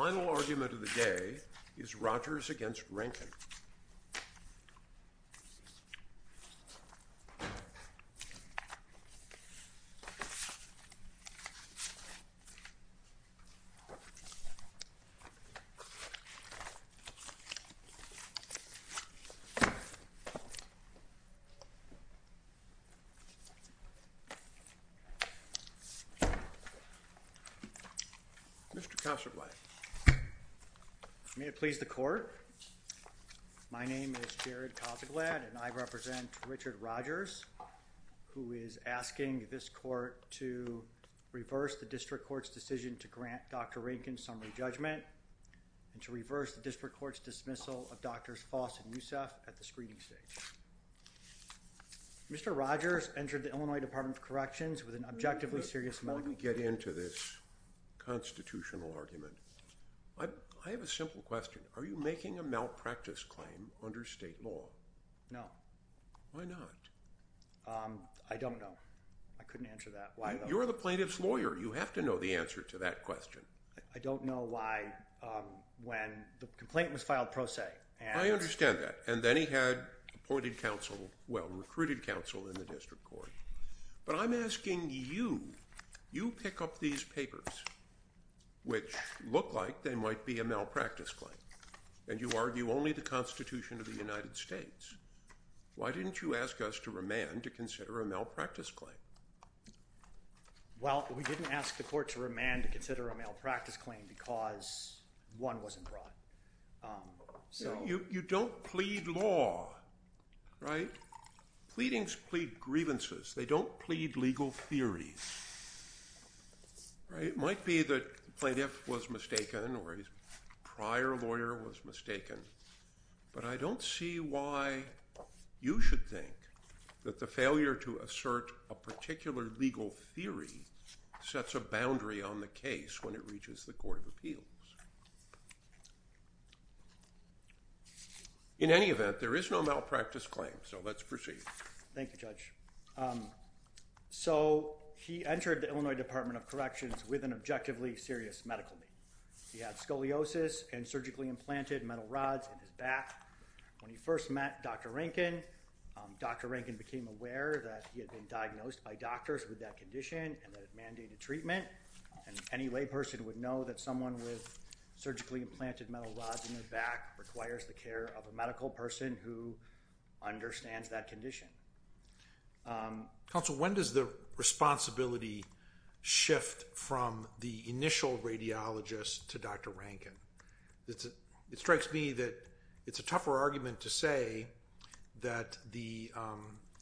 The final argument of the day is Rodgers v. Rankin. Mr. Cossertway, may it please the court. My name is Jared Cossaglad and I represent Richard Rodgers who is asking this court to reverse the district court's decision to grant Dr. Rankin summary judgment and to reverse the district court's dismissal of Drs. Foss and Yusef at the screening stage. Mr. Rodgers entered the Illinois Department of Corrections with an objectively serious motive. When we get into this constitutional argument, I have a simple question. Are you making a malpractice claim under state law? No. Why not? I don't know. I couldn't answer that. Why though? You're the plaintiff's lawyer. You have to know the answer to that question. I don't know why when the complaint was filed pro se and— I understand that. And then he had appointed counsel, well, recruited counsel in the district court. But I'm asking you, you pick up these papers, which look like they might be a malpractice claim, and you argue only the Constitution of the United States. Why didn't you ask us to remand to consider a malpractice claim? Well, we didn't ask the court to remand to consider a malpractice claim because one wasn't brought. So— You don't plead law, right? Pleadings plead grievances. They don't plead legal theories, right? It might be that the plaintiff was mistaken or his prior lawyer was mistaken, but I don't see why you should think that the failure to assert a particular legal theory sets a boundary on the case when it reaches the court of appeals. In any event, there is no malpractice claim. So let's proceed. Thank you, Judge. So he entered the Illinois Department of Corrections with an objectively serious medical need. He had scoliosis and surgically implanted metal rods in his back. When he first met Dr. Rankin, Dr. Rankin became aware that he had been diagnosed by doctors with that condition and that it mandated treatment, and any layperson would know that someone with surgically implanted metal rods in their back requires the care of a medical person who understands that condition. Counsel, when does the responsibility shift from the initial radiologist to Dr. Rankin? It strikes me that it's a tougher argument to say that the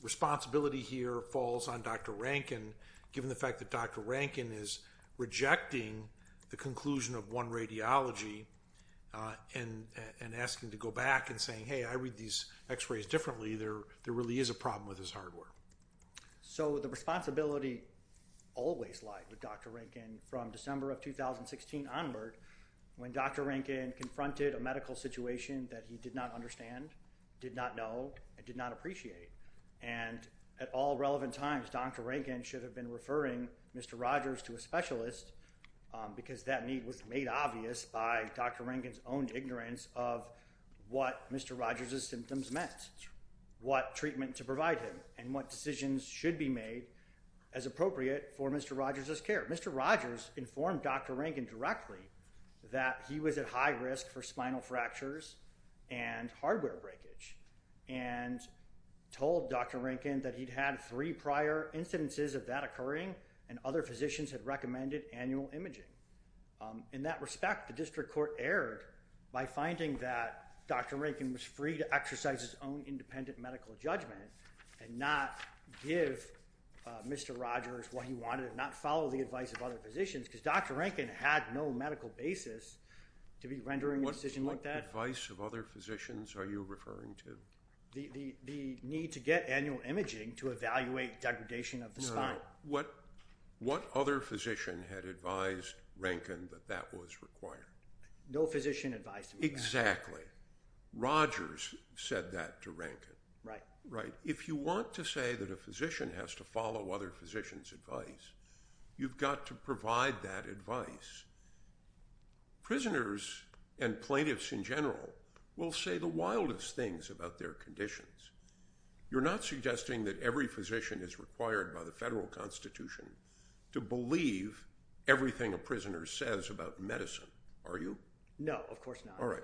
responsibility here falls on Dr. Rankin, given the fact that Dr. Rankin is rejecting the conclusion of one radiology and asking to go back and saying, hey, I read these x-rays differently. There really is a problem with his hardware. So the responsibility always lied with Dr. Rankin from December of 2016 onward when Dr. Rankin confronted a medical situation that he did not understand, did not know, and did not appreciate. And at all relevant times, Dr. Rankin should have been referring Mr. Rogers to a specialist because that need was made obvious by Dr. Rankin's own ignorance of what Mr. Rogers' symptoms meant, what treatment to provide him, and what decisions should be made as appropriate for Mr. Rogers' care. Mr. Rogers informed Dr. Rankin directly that he was at high risk for spinal fractures and hardware breakage, and told Dr. Rankin that he'd had three prior incidences of that occurring and other physicians had recommended annual imaging. In that respect, the district court erred by finding that Dr. Rankin was free to exercise his own independent medical judgment and not give Mr. Rogers what he wanted and not follow the advice of other physicians because Dr. Rankin had no medical basis to be rendering a decision like that. What advice of other physicians are you referring to? The need to get annual imaging to evaluate degradation of the spine. Now, what other physician had advised Rankin that that was required? No physician advised him. Exactly. Rogers said that to Rankin. Right. Right. If you want to say that a physician has to follow other physicians' advice, you've got to provide that advice. Prisoners and plaintiffs in general will say the wildest things about their conditions. You're not suggesting that every physician is required by the federal constitution to believe everything a prisoner says about medicine, are you? No. Of course not. All right.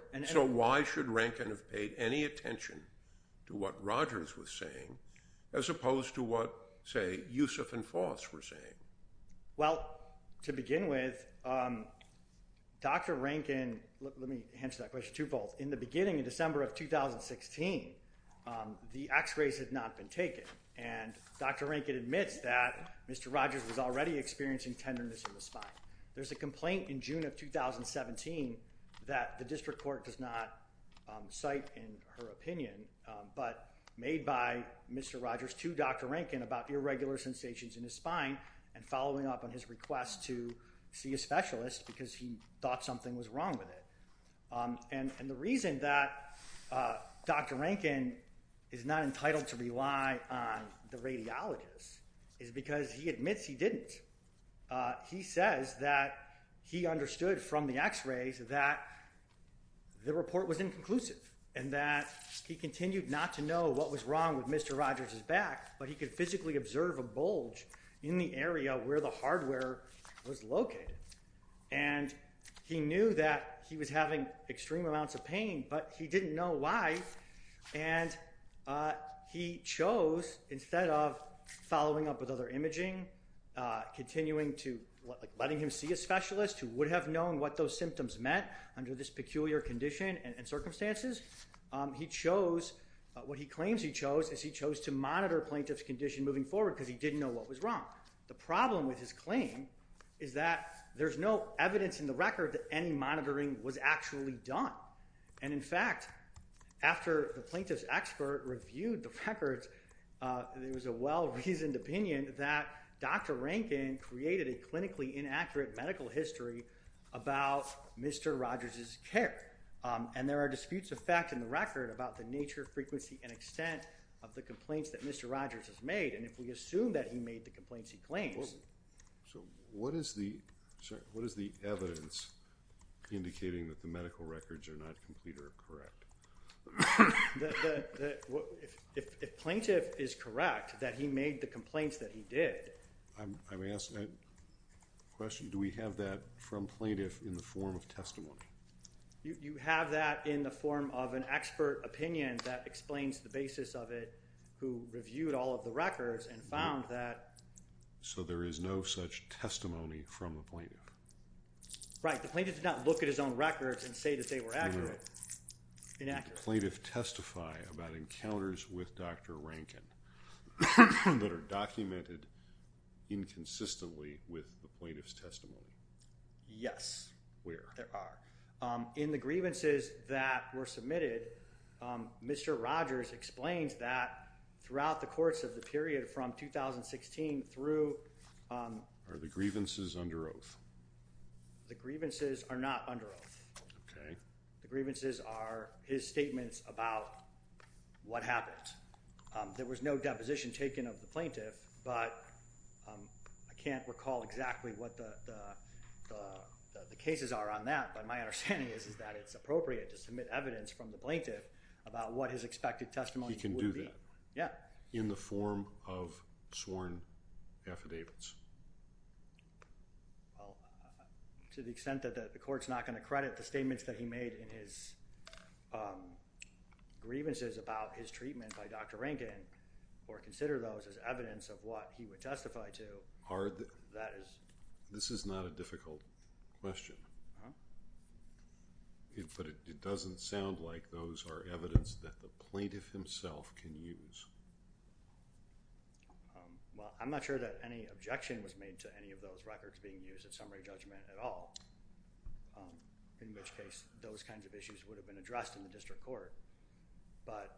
Why should Rankin have paid any attention to what Rogers was saying as opposed to what, say, Yusuf and Foss were saying? To begin with, Dr. Rankin... Let me answer that question twofold. In the beginning of December of 2016, the x-rays had not been taken, and Dr. Rankin admits that Mr. Rogers was already experiencing tenderness in the spine. There's a complaint in June of 2017 that the district court does not cite in her opinion, but made by Mr. Rogers to Dr. Rankin about irregular sensations in his spine and following up on his request to see a specialist because he thought something was wrong with it. And the reason that Dr. Rankin is not entitled to rely on the radiologist is because he admits he didn't. He says that he understood from the x-rays that the report was inconclusive and that he continued not to know what was wrong with Mr. Rogers' back, but he could physically observe a bulge in the area where the hardware was located. And he knew that he was having extreme amounts of pain, but he didn't know why, and he chose, instead of following up with other imaging, continuing to... Letting him see a specialist who would have known what those symptoms meant under this peculiar condition and circumstances, he chose... What he claims he chose is he chose to monitor a plaintiff's condition moving forward because he didn't know what was wrong. The problem with his claim is that there's no evidence in the record that any monitoring was actually done. And in fact, after the plaintiff's expert reviewed the records, there was a well-reasoned opinion that Dr. Rankin created a clinically inaccurate medical history about Mr. Rogers' care. And there are disputes of fact in the record about the nature, frequency, and extent of the complaints that Mr. Rogers has made, and if we assume that he made the complaints he claims... So, what is the evidence indicating that the medical records are not complete or correct? If plaintiff is correct that he made the complaints that he did... I'm asking a question, do we have that from plaintiff in the form of testimony? You have that in the form of an expert opinion that explains the basis of it, who reviewed all of the records and found that... So there is no such testimony from the plaintiff? Right, the plaintiff did not look at his own records and say that they were accurate. Inaccurate. Did the plaintiff testify about encounters with Dr. Rankin that are documented inconsistently with the plaintiff's testimony? Yes. Where? There are. In the grievances that were submitted, Mr. Rogers explains that throughout the course of the period from 2016 through... Are the grievances under oath? The grievances are not under oath. Okay. The grievances are his statements about what happened. There was no deposition taken of the plaintiff, but I can't recall exactly what the cases are on that, but my understanding is that it's appropriate to submit evidence from the plaintiff about what his expected testimony would be. He can do that? Yeah. In the form of sworn affidavits? To the extent that the court's not going to credit the statements that he made in his grievances about his treatment by Dr. Rankin, or consider those as evidence of what he would testify to, that is... This is not a difficult question, but it doesn't sound like those are evidence that the plaintiff himself can use. Well, I'm not sure that any objection was made to any of those records being used at summary judgment at all, in which case those kinds of issues would have been addressed in the district court. But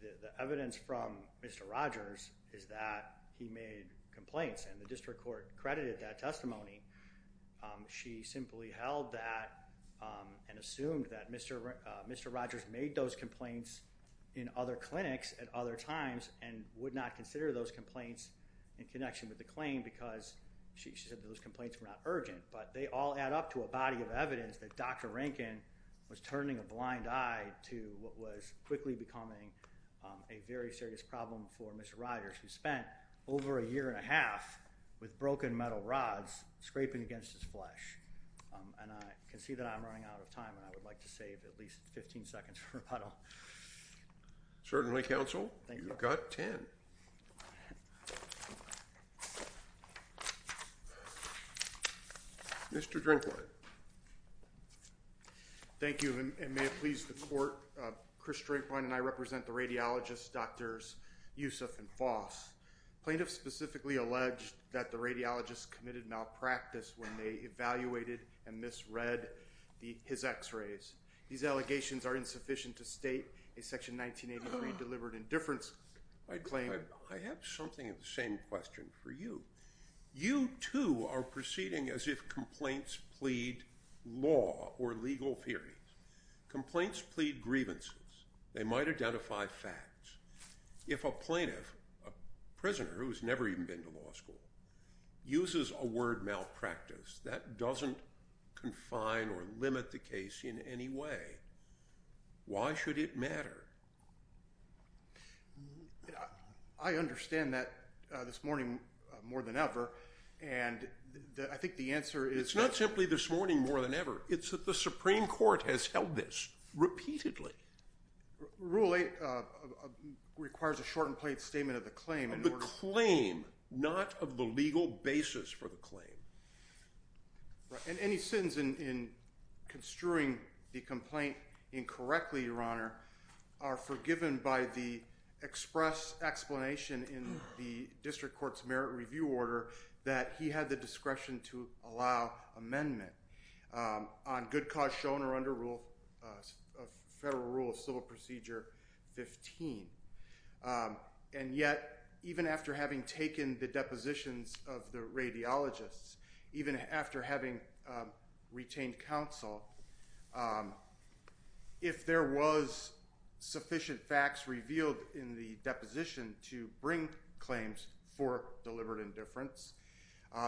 the evidence from Mr. Rogers is that he made complaints, and the district court credited that testimony. She simply held that and assumed that Mr. Rogers made those complaints in other clinics at other times, and would not consider those complaints in connection with the claim, because she said those complaints were not urgent. But they all add up to a body of evidence that Dr. Rankin was turning a blind eye to what was quickly becoming a very serious problem for Mr. Rogers, who spent over a year and a half with broken metal rods, scraping against his flesh. And I can see that I'm running out of time, and I would like to save at least 15 seconds for rebuttal. Certainly, counsel. Thank you. You've got 10. Thank you. Mr. Drinkwine. Thank you. And may it please the court, Chris Drinkwine and I represent the radiologists, Drs. Yusuf and Foss. Plaintiffs specifically alleged that the radiologists committed malpractice when they evaluated and misread his x-rays. These allegations are insufficient to state a Section 1983 delivered indifference claim. I have something of the same question for you. You too are proceeding as if complaints plead law or legal theories. Complaints plead grievances. They might identify facts. If a plaintiff, a prisoner who has never even been to law school, uses a word malpractice, that doesn't confine or limit the case in any way. Why should it matter? I understand that this morning more than ever, and I think the answer is... It's not simply this morning more than ever. It's that the Supreme Court has held this repeatedly. Rule 8 requires a shortened plaintiff's statement of the claim in order to... The claim, not of the legal basis for the claim. Any sins in construing the complaint incorrectly, Your Honor, are forgiven by the express explanation in the District Court's Merit Review Order that he had the discretion to allow amendment on good cause shown or under Federal Rule of Civil Procedure 15. And yet, even after having taken the depositions of the radiologists, even after having retained counsel, if there was sufficient facts revealed in the deposition to bring claims for deliberate indifference,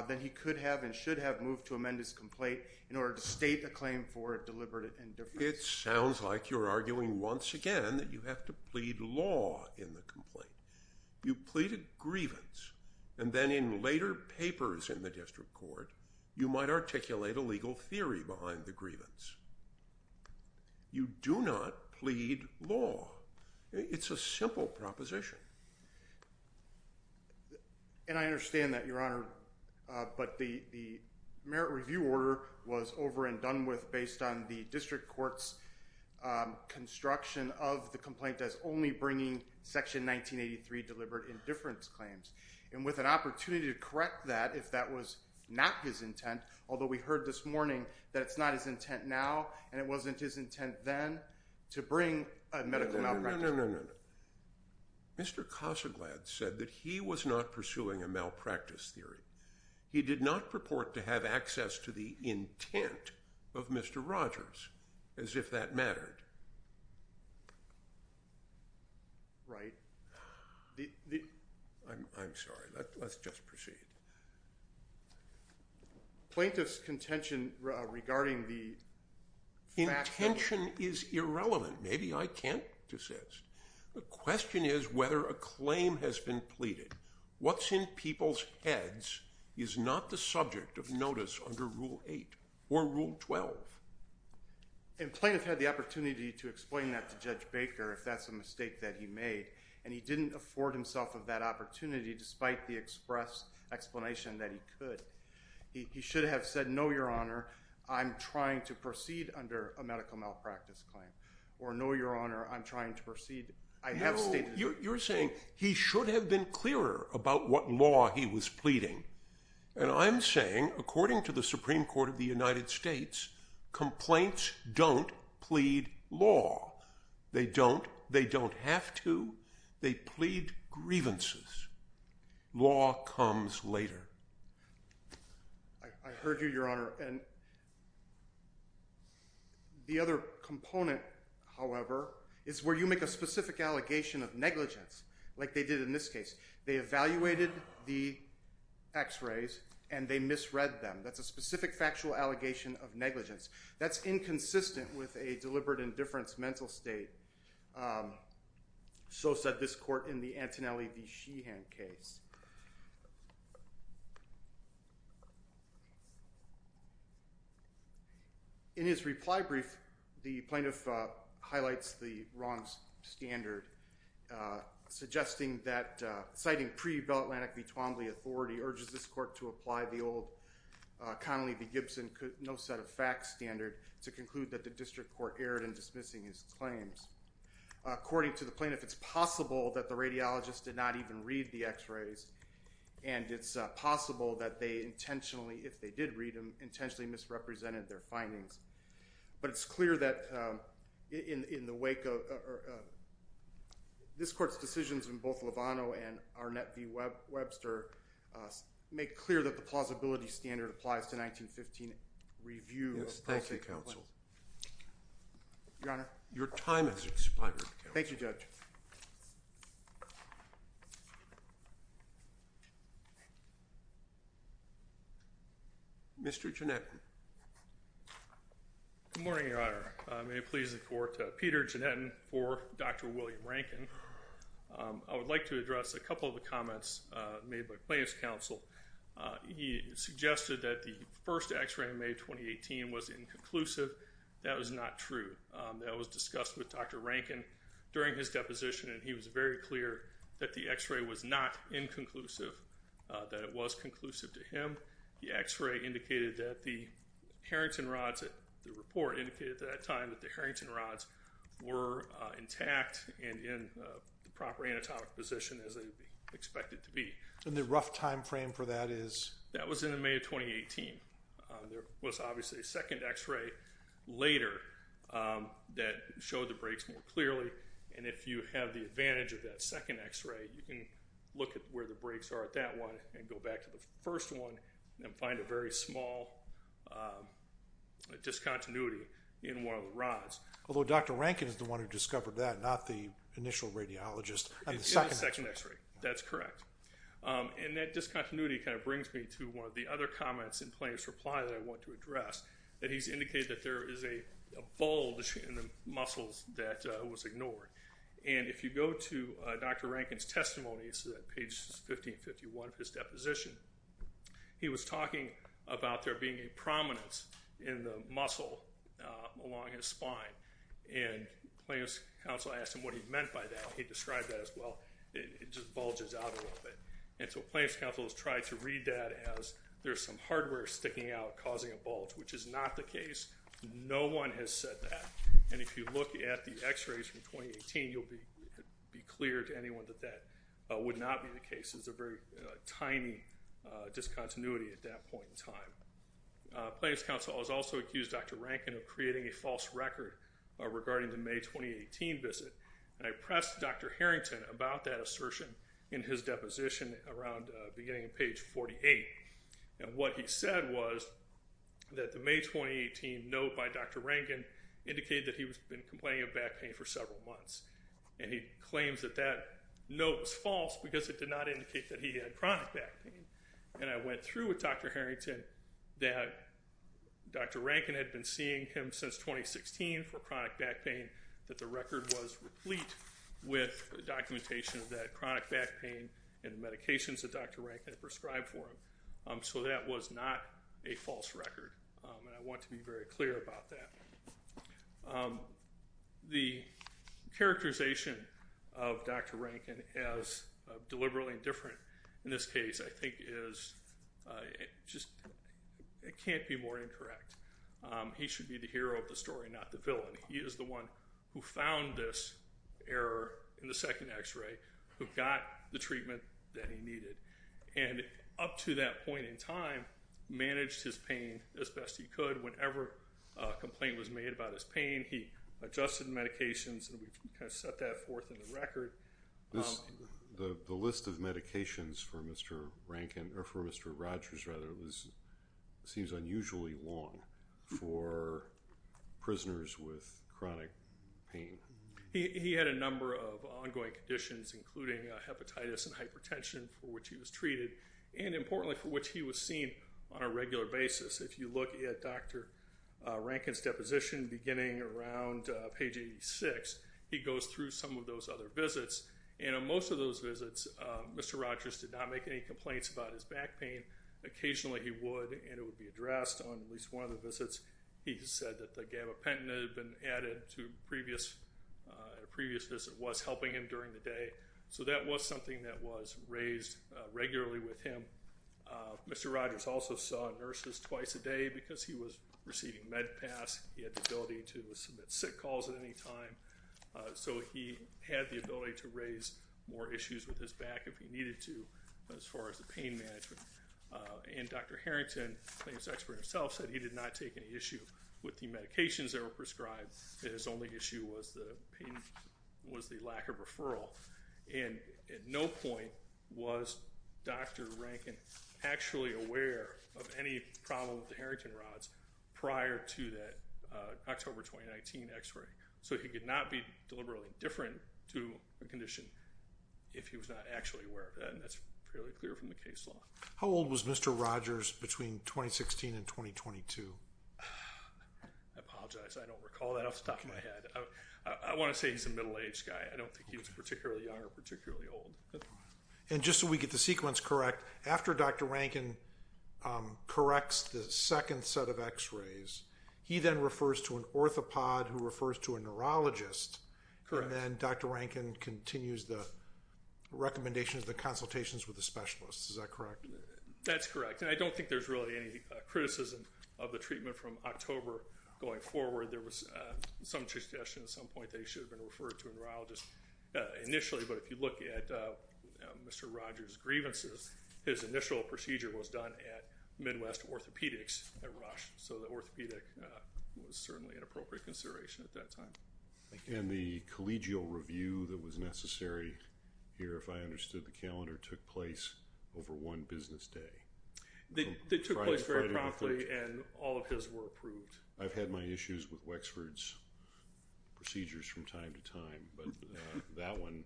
then he could have and should have moved to amend his complaint in order to state a claim for deliberate indifference. It sounds like you're arguing once again that you have to plead law in the complaint. You pleaded grievance, and then in later papers in the District Court, you might articulate a legal theory behind the grievance. You do not plead law. It's a simple proposition. And I understand that, Your Honor, but the Merit Review Order was over and done with based on the District Court's construction of the complaint as only bringing Section 1983 deliberate indifference claims. And with an opportunity to correct that if that was not his intent, although we heard this morning that it's not his intent now, and it wasn't his intent then, to bring a medical malpractice. No, no, no, no, no, no. Mr. Cossaglad said that he was not pursuing a malpractice theory. He did not purport to have access to the intent of Mr. Rogers, as if that mattered. Right. I'm sorry, let's just proceed. Plaintiff's contention regarding the fact that... Intention is irrelevant. Maybe I can't desist. The question is whether a claim has been pleaded. What's in people's heads is not the subject of notice under Rule 8 or Rule 12. And plaintiff had the opportunity to explain that to Judge Baker, if that's a mistake that he made. And he didn't afford himself of that opportunity, despite the express explanation that he could. He should have said, no, Your Honor, I'm trying to proceed under a medical malpractice claim. Or no, Your Honor, I'm trying to proceed... I have stated... You're saying he should have been clearer about what law he was pleading. And I'm saying, according to the Supreme Court of the United States, complaints don't plead law. They don't. They don't have to. They plead grievances. Law comes later. I heard you, Your Honor. And the other component, however, is where you make a specific allegation of negligence, like they did in this case. They evaluated the x-rays and they misread them. That's a specific factual allegation of negligence. That's inconsistent with a deliberate indifference mental state. So said this court in the Antonelli v. Sheehan case. In his reply brief, the plaintiff highlights the wrong standard, citing pre-Bell-Atlantic v. Twombly authority urges this court to apply the old Connolly v. Gibson no-set-of-facts standard to conclude that the district court erred in dismissing his claims. According to the plaintiff, it's possible that the radiologist did not even read the x-rays and it's possible that they intentionally, if they did read them, intentionally misrepresented their findings. But it's clear that in the wake of this court's decisions in both Lovano and Arnett v. Webster, it's clear that the plausibility standard applies to 1915 review of policy complaints. Yes, thank you, counsel. Your Honor. Your time has expired, counsel. Thank you, Judge. Mr. Jannettan. Good morning, Your Honor. May it please the court, Peter Jannettan for Dr. William Rankin. I would like to address a couple of the comments made by plaintiff's counsel. He suggested that the first x-ray in May 2018 was inconclusive. That was not true. That was discussed with Dr. Rankin during his deposition and he was very clear that the x-ray was not inconclusive, that it was conclusive to him. The x-ray indicated that the Harrington rods, the report indicated at that time that the anatomic position as they expected to be. And the rough time frame for that is? That was in the May of 2018. There was obviously a second x-ray later that showed the breaks more clearly and if you have the advantage of that second x-ray, you can look at where the breaks are at that one and go back to the first one and find a very small discontinuity in one of the rods. Although Dr. Rankin is the one who discovered that, not the initial radiologist. In the second x-ray. In the second x-ray, that's correct. And that discontinuity kind of brings me to one of the other comments in plaintiff's reply that I want to address, that he's indicated that there is a bulge in the muscles that was ignored. And if you go to Dr. Rankin's testimony, it's page 1551 of his deposition, he was talking about there being a prominence in the muscle along his spine. And plaintiff's counsel asked him what he meant by that. He described that as well. It just bulges out a little bit. And so plaintiff's counsel has tried to read that as there's some hardware sticking out causing a bulge, which is not the case. No one has said that. And if you look at the x-rays from 2018, you'll be clear to anyone that that would not be the case. This is a very tiny discontinuity at that point in time. Plaintiff's counsel has also accused Dr. Rankin of creating a false record regarding the May 2018 visit. And I pressed Dr. Harrington about that assertion in his deposition around the beginning of page 48. And what he said was that the May 2018 note by Dr. Rankin indicated that he had been complaining of back pain for several months. And he claims that that note was false because it did not indicate that he had chronic back pain. And I went through with Dr. Harrington that Dr. Rankin had been seeing him since 2016 for chronic back pain, that the record was replete with documentation that chronic back pain and medications that Dr. Rankin had prescribed for him. So that was not a false record. And I want to be very clear about that. The characterization of Dr. Rankin as deliberately indifferent in this case, I think, is just can't be more incorrect. He should be the hero of the story, not the villain. He is the one who found this error in the second x-ray, who got the treatment that he needed. And up to that point in time, managed his pain as best he could. And whenever a complaint was made about his pain, he adjusted medications, and we kind of set that forth in the record. The list of medications for Mr. Rankin, or for Mr. Rogers, rather, seems unusually long for prisoners with chronic pain. He had a number of ongoing conditions, including hepatitis and hypertension, for which he was treated, and importantly, for which he was seen on a regular basis. If you look at Dr. Rankin's deposition, beginning around page 86, he goes through some of those other visits. And on most of those visits, Mr. Rogers did not make any complaints about his back pain. Occasionally, he would, and it would be addressed on at least one of the visits. He just said that the gabapentin had been added to a previous visit, was helping him during the day. So that was something that was raised regularly with him. Mr. Rogers also saw nurses twice a day because he was receiving med pass. He had the ability to submit sick calls at any time. So he had the ability to raise more issues with his back if he needed to, as far as the pain management. And Dr. Harrington, the expert himself, said he did not take any issue with the medications that were prescribed. His only issue was the lack of referral. And at no point was Dr. Rankin actually aware of any problem with the Harrington rods prior to that October 2019 x-ray. So he could not be deliberately different to the condition if he was not actually aware of that. And that's fairly clear from the case law. How old was Mr. Rogers between 2016 and 2022? I apologize. I don't recall that off the top of my head. I want to say he's a middle-aged guy. I don't think he was particularly young or particularly old. And just so we get the sequence correct, after Dr. Rankin corrects the second set of x-rays, he then refers to an orthopod who refers to a neurologist. Correct. And then Dr. Rankin continues the recommendations, the consultations with the specialists. Is that correct? That's correct. And I don't think there's really any criticism of the treatment from October going forward. There was some suggestion at some point that he should have been referred to a neurologist initially. But if you look at Mr. Rogers' grievances, his initial procedure was done at Midwest Orthopedics at Rush. So the orthopedic was certainly an appropriate consideration at that time. And the collegial review that was necessary here, if I understood the calendar, took place over one business day. They took place very promptly and all of his were approved. I've had my issues with Wexford's procedures from time to time, but that one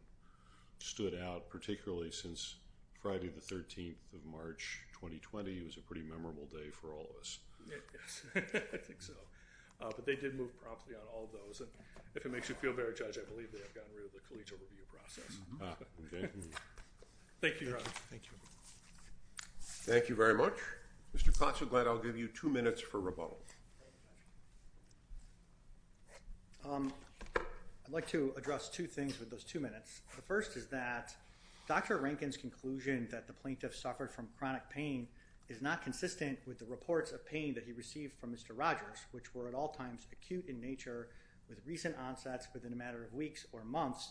stood out, particularly since Friday the 13th of March, 2020. It was a pretty memorable day for all of us. Yes. I think so. But they did move promptly on all of those. And if it makes you feel better, Judge, I believe they have gotten rid of the collegial review process. Okay. Thank you, Your Honor. Thank you. Thank you very much. Mr. Klotz, I'm glad I'll give you two minutes for rebuttal. Thank you very much. I'd like to address two things with those two minutes. The first is that Dr. Rankin's conclusion that the plaintiff suffered from chronic pain is not consistent with the reports of pain that he received from Mr. Rogers, which were at all times acute in nature with recent onsets within a matter of weeks or months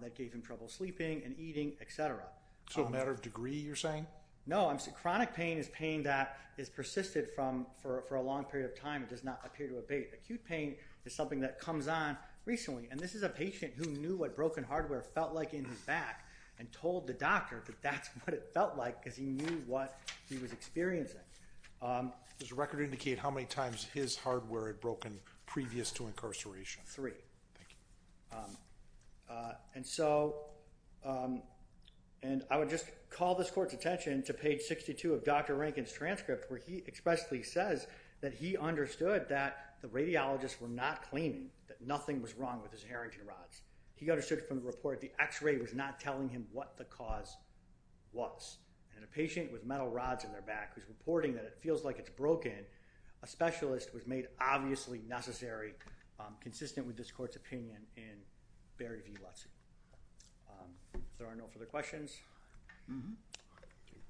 that gave him trouble sleeping and eating, et cetera. So a matter of degree, you're saying? No. Chronic pain is pain that has persisted for a long period of time. It does not appear to abate. Acute pain is something that comes on recently. And this is a patient who knew what broken hardware felt like in his back and told the doctor that that's what it felt like because he knew what he was experiencing. Does the record indicate how many times his hardware had broken previous to incarceration? Three. Thank you. And so I would just call this court's attention to page 62 of Dr. Rankin's transcript where he expressly says that he understood that the radiologists were not claiming that nothing was wrong with his Harrington rods. He understood from the report the x-ray was not telling him what the cause was. And a patient with metal rods in their back who's reporting that it feels like it's broken, a specialist was made obviously necessary consistent with this court's opinion in Barry V. Lutze. If there are no further questions.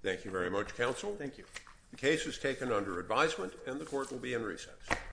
Thank you very much, counsel. Thank you. The case is taken under advisement and the court will be in recess.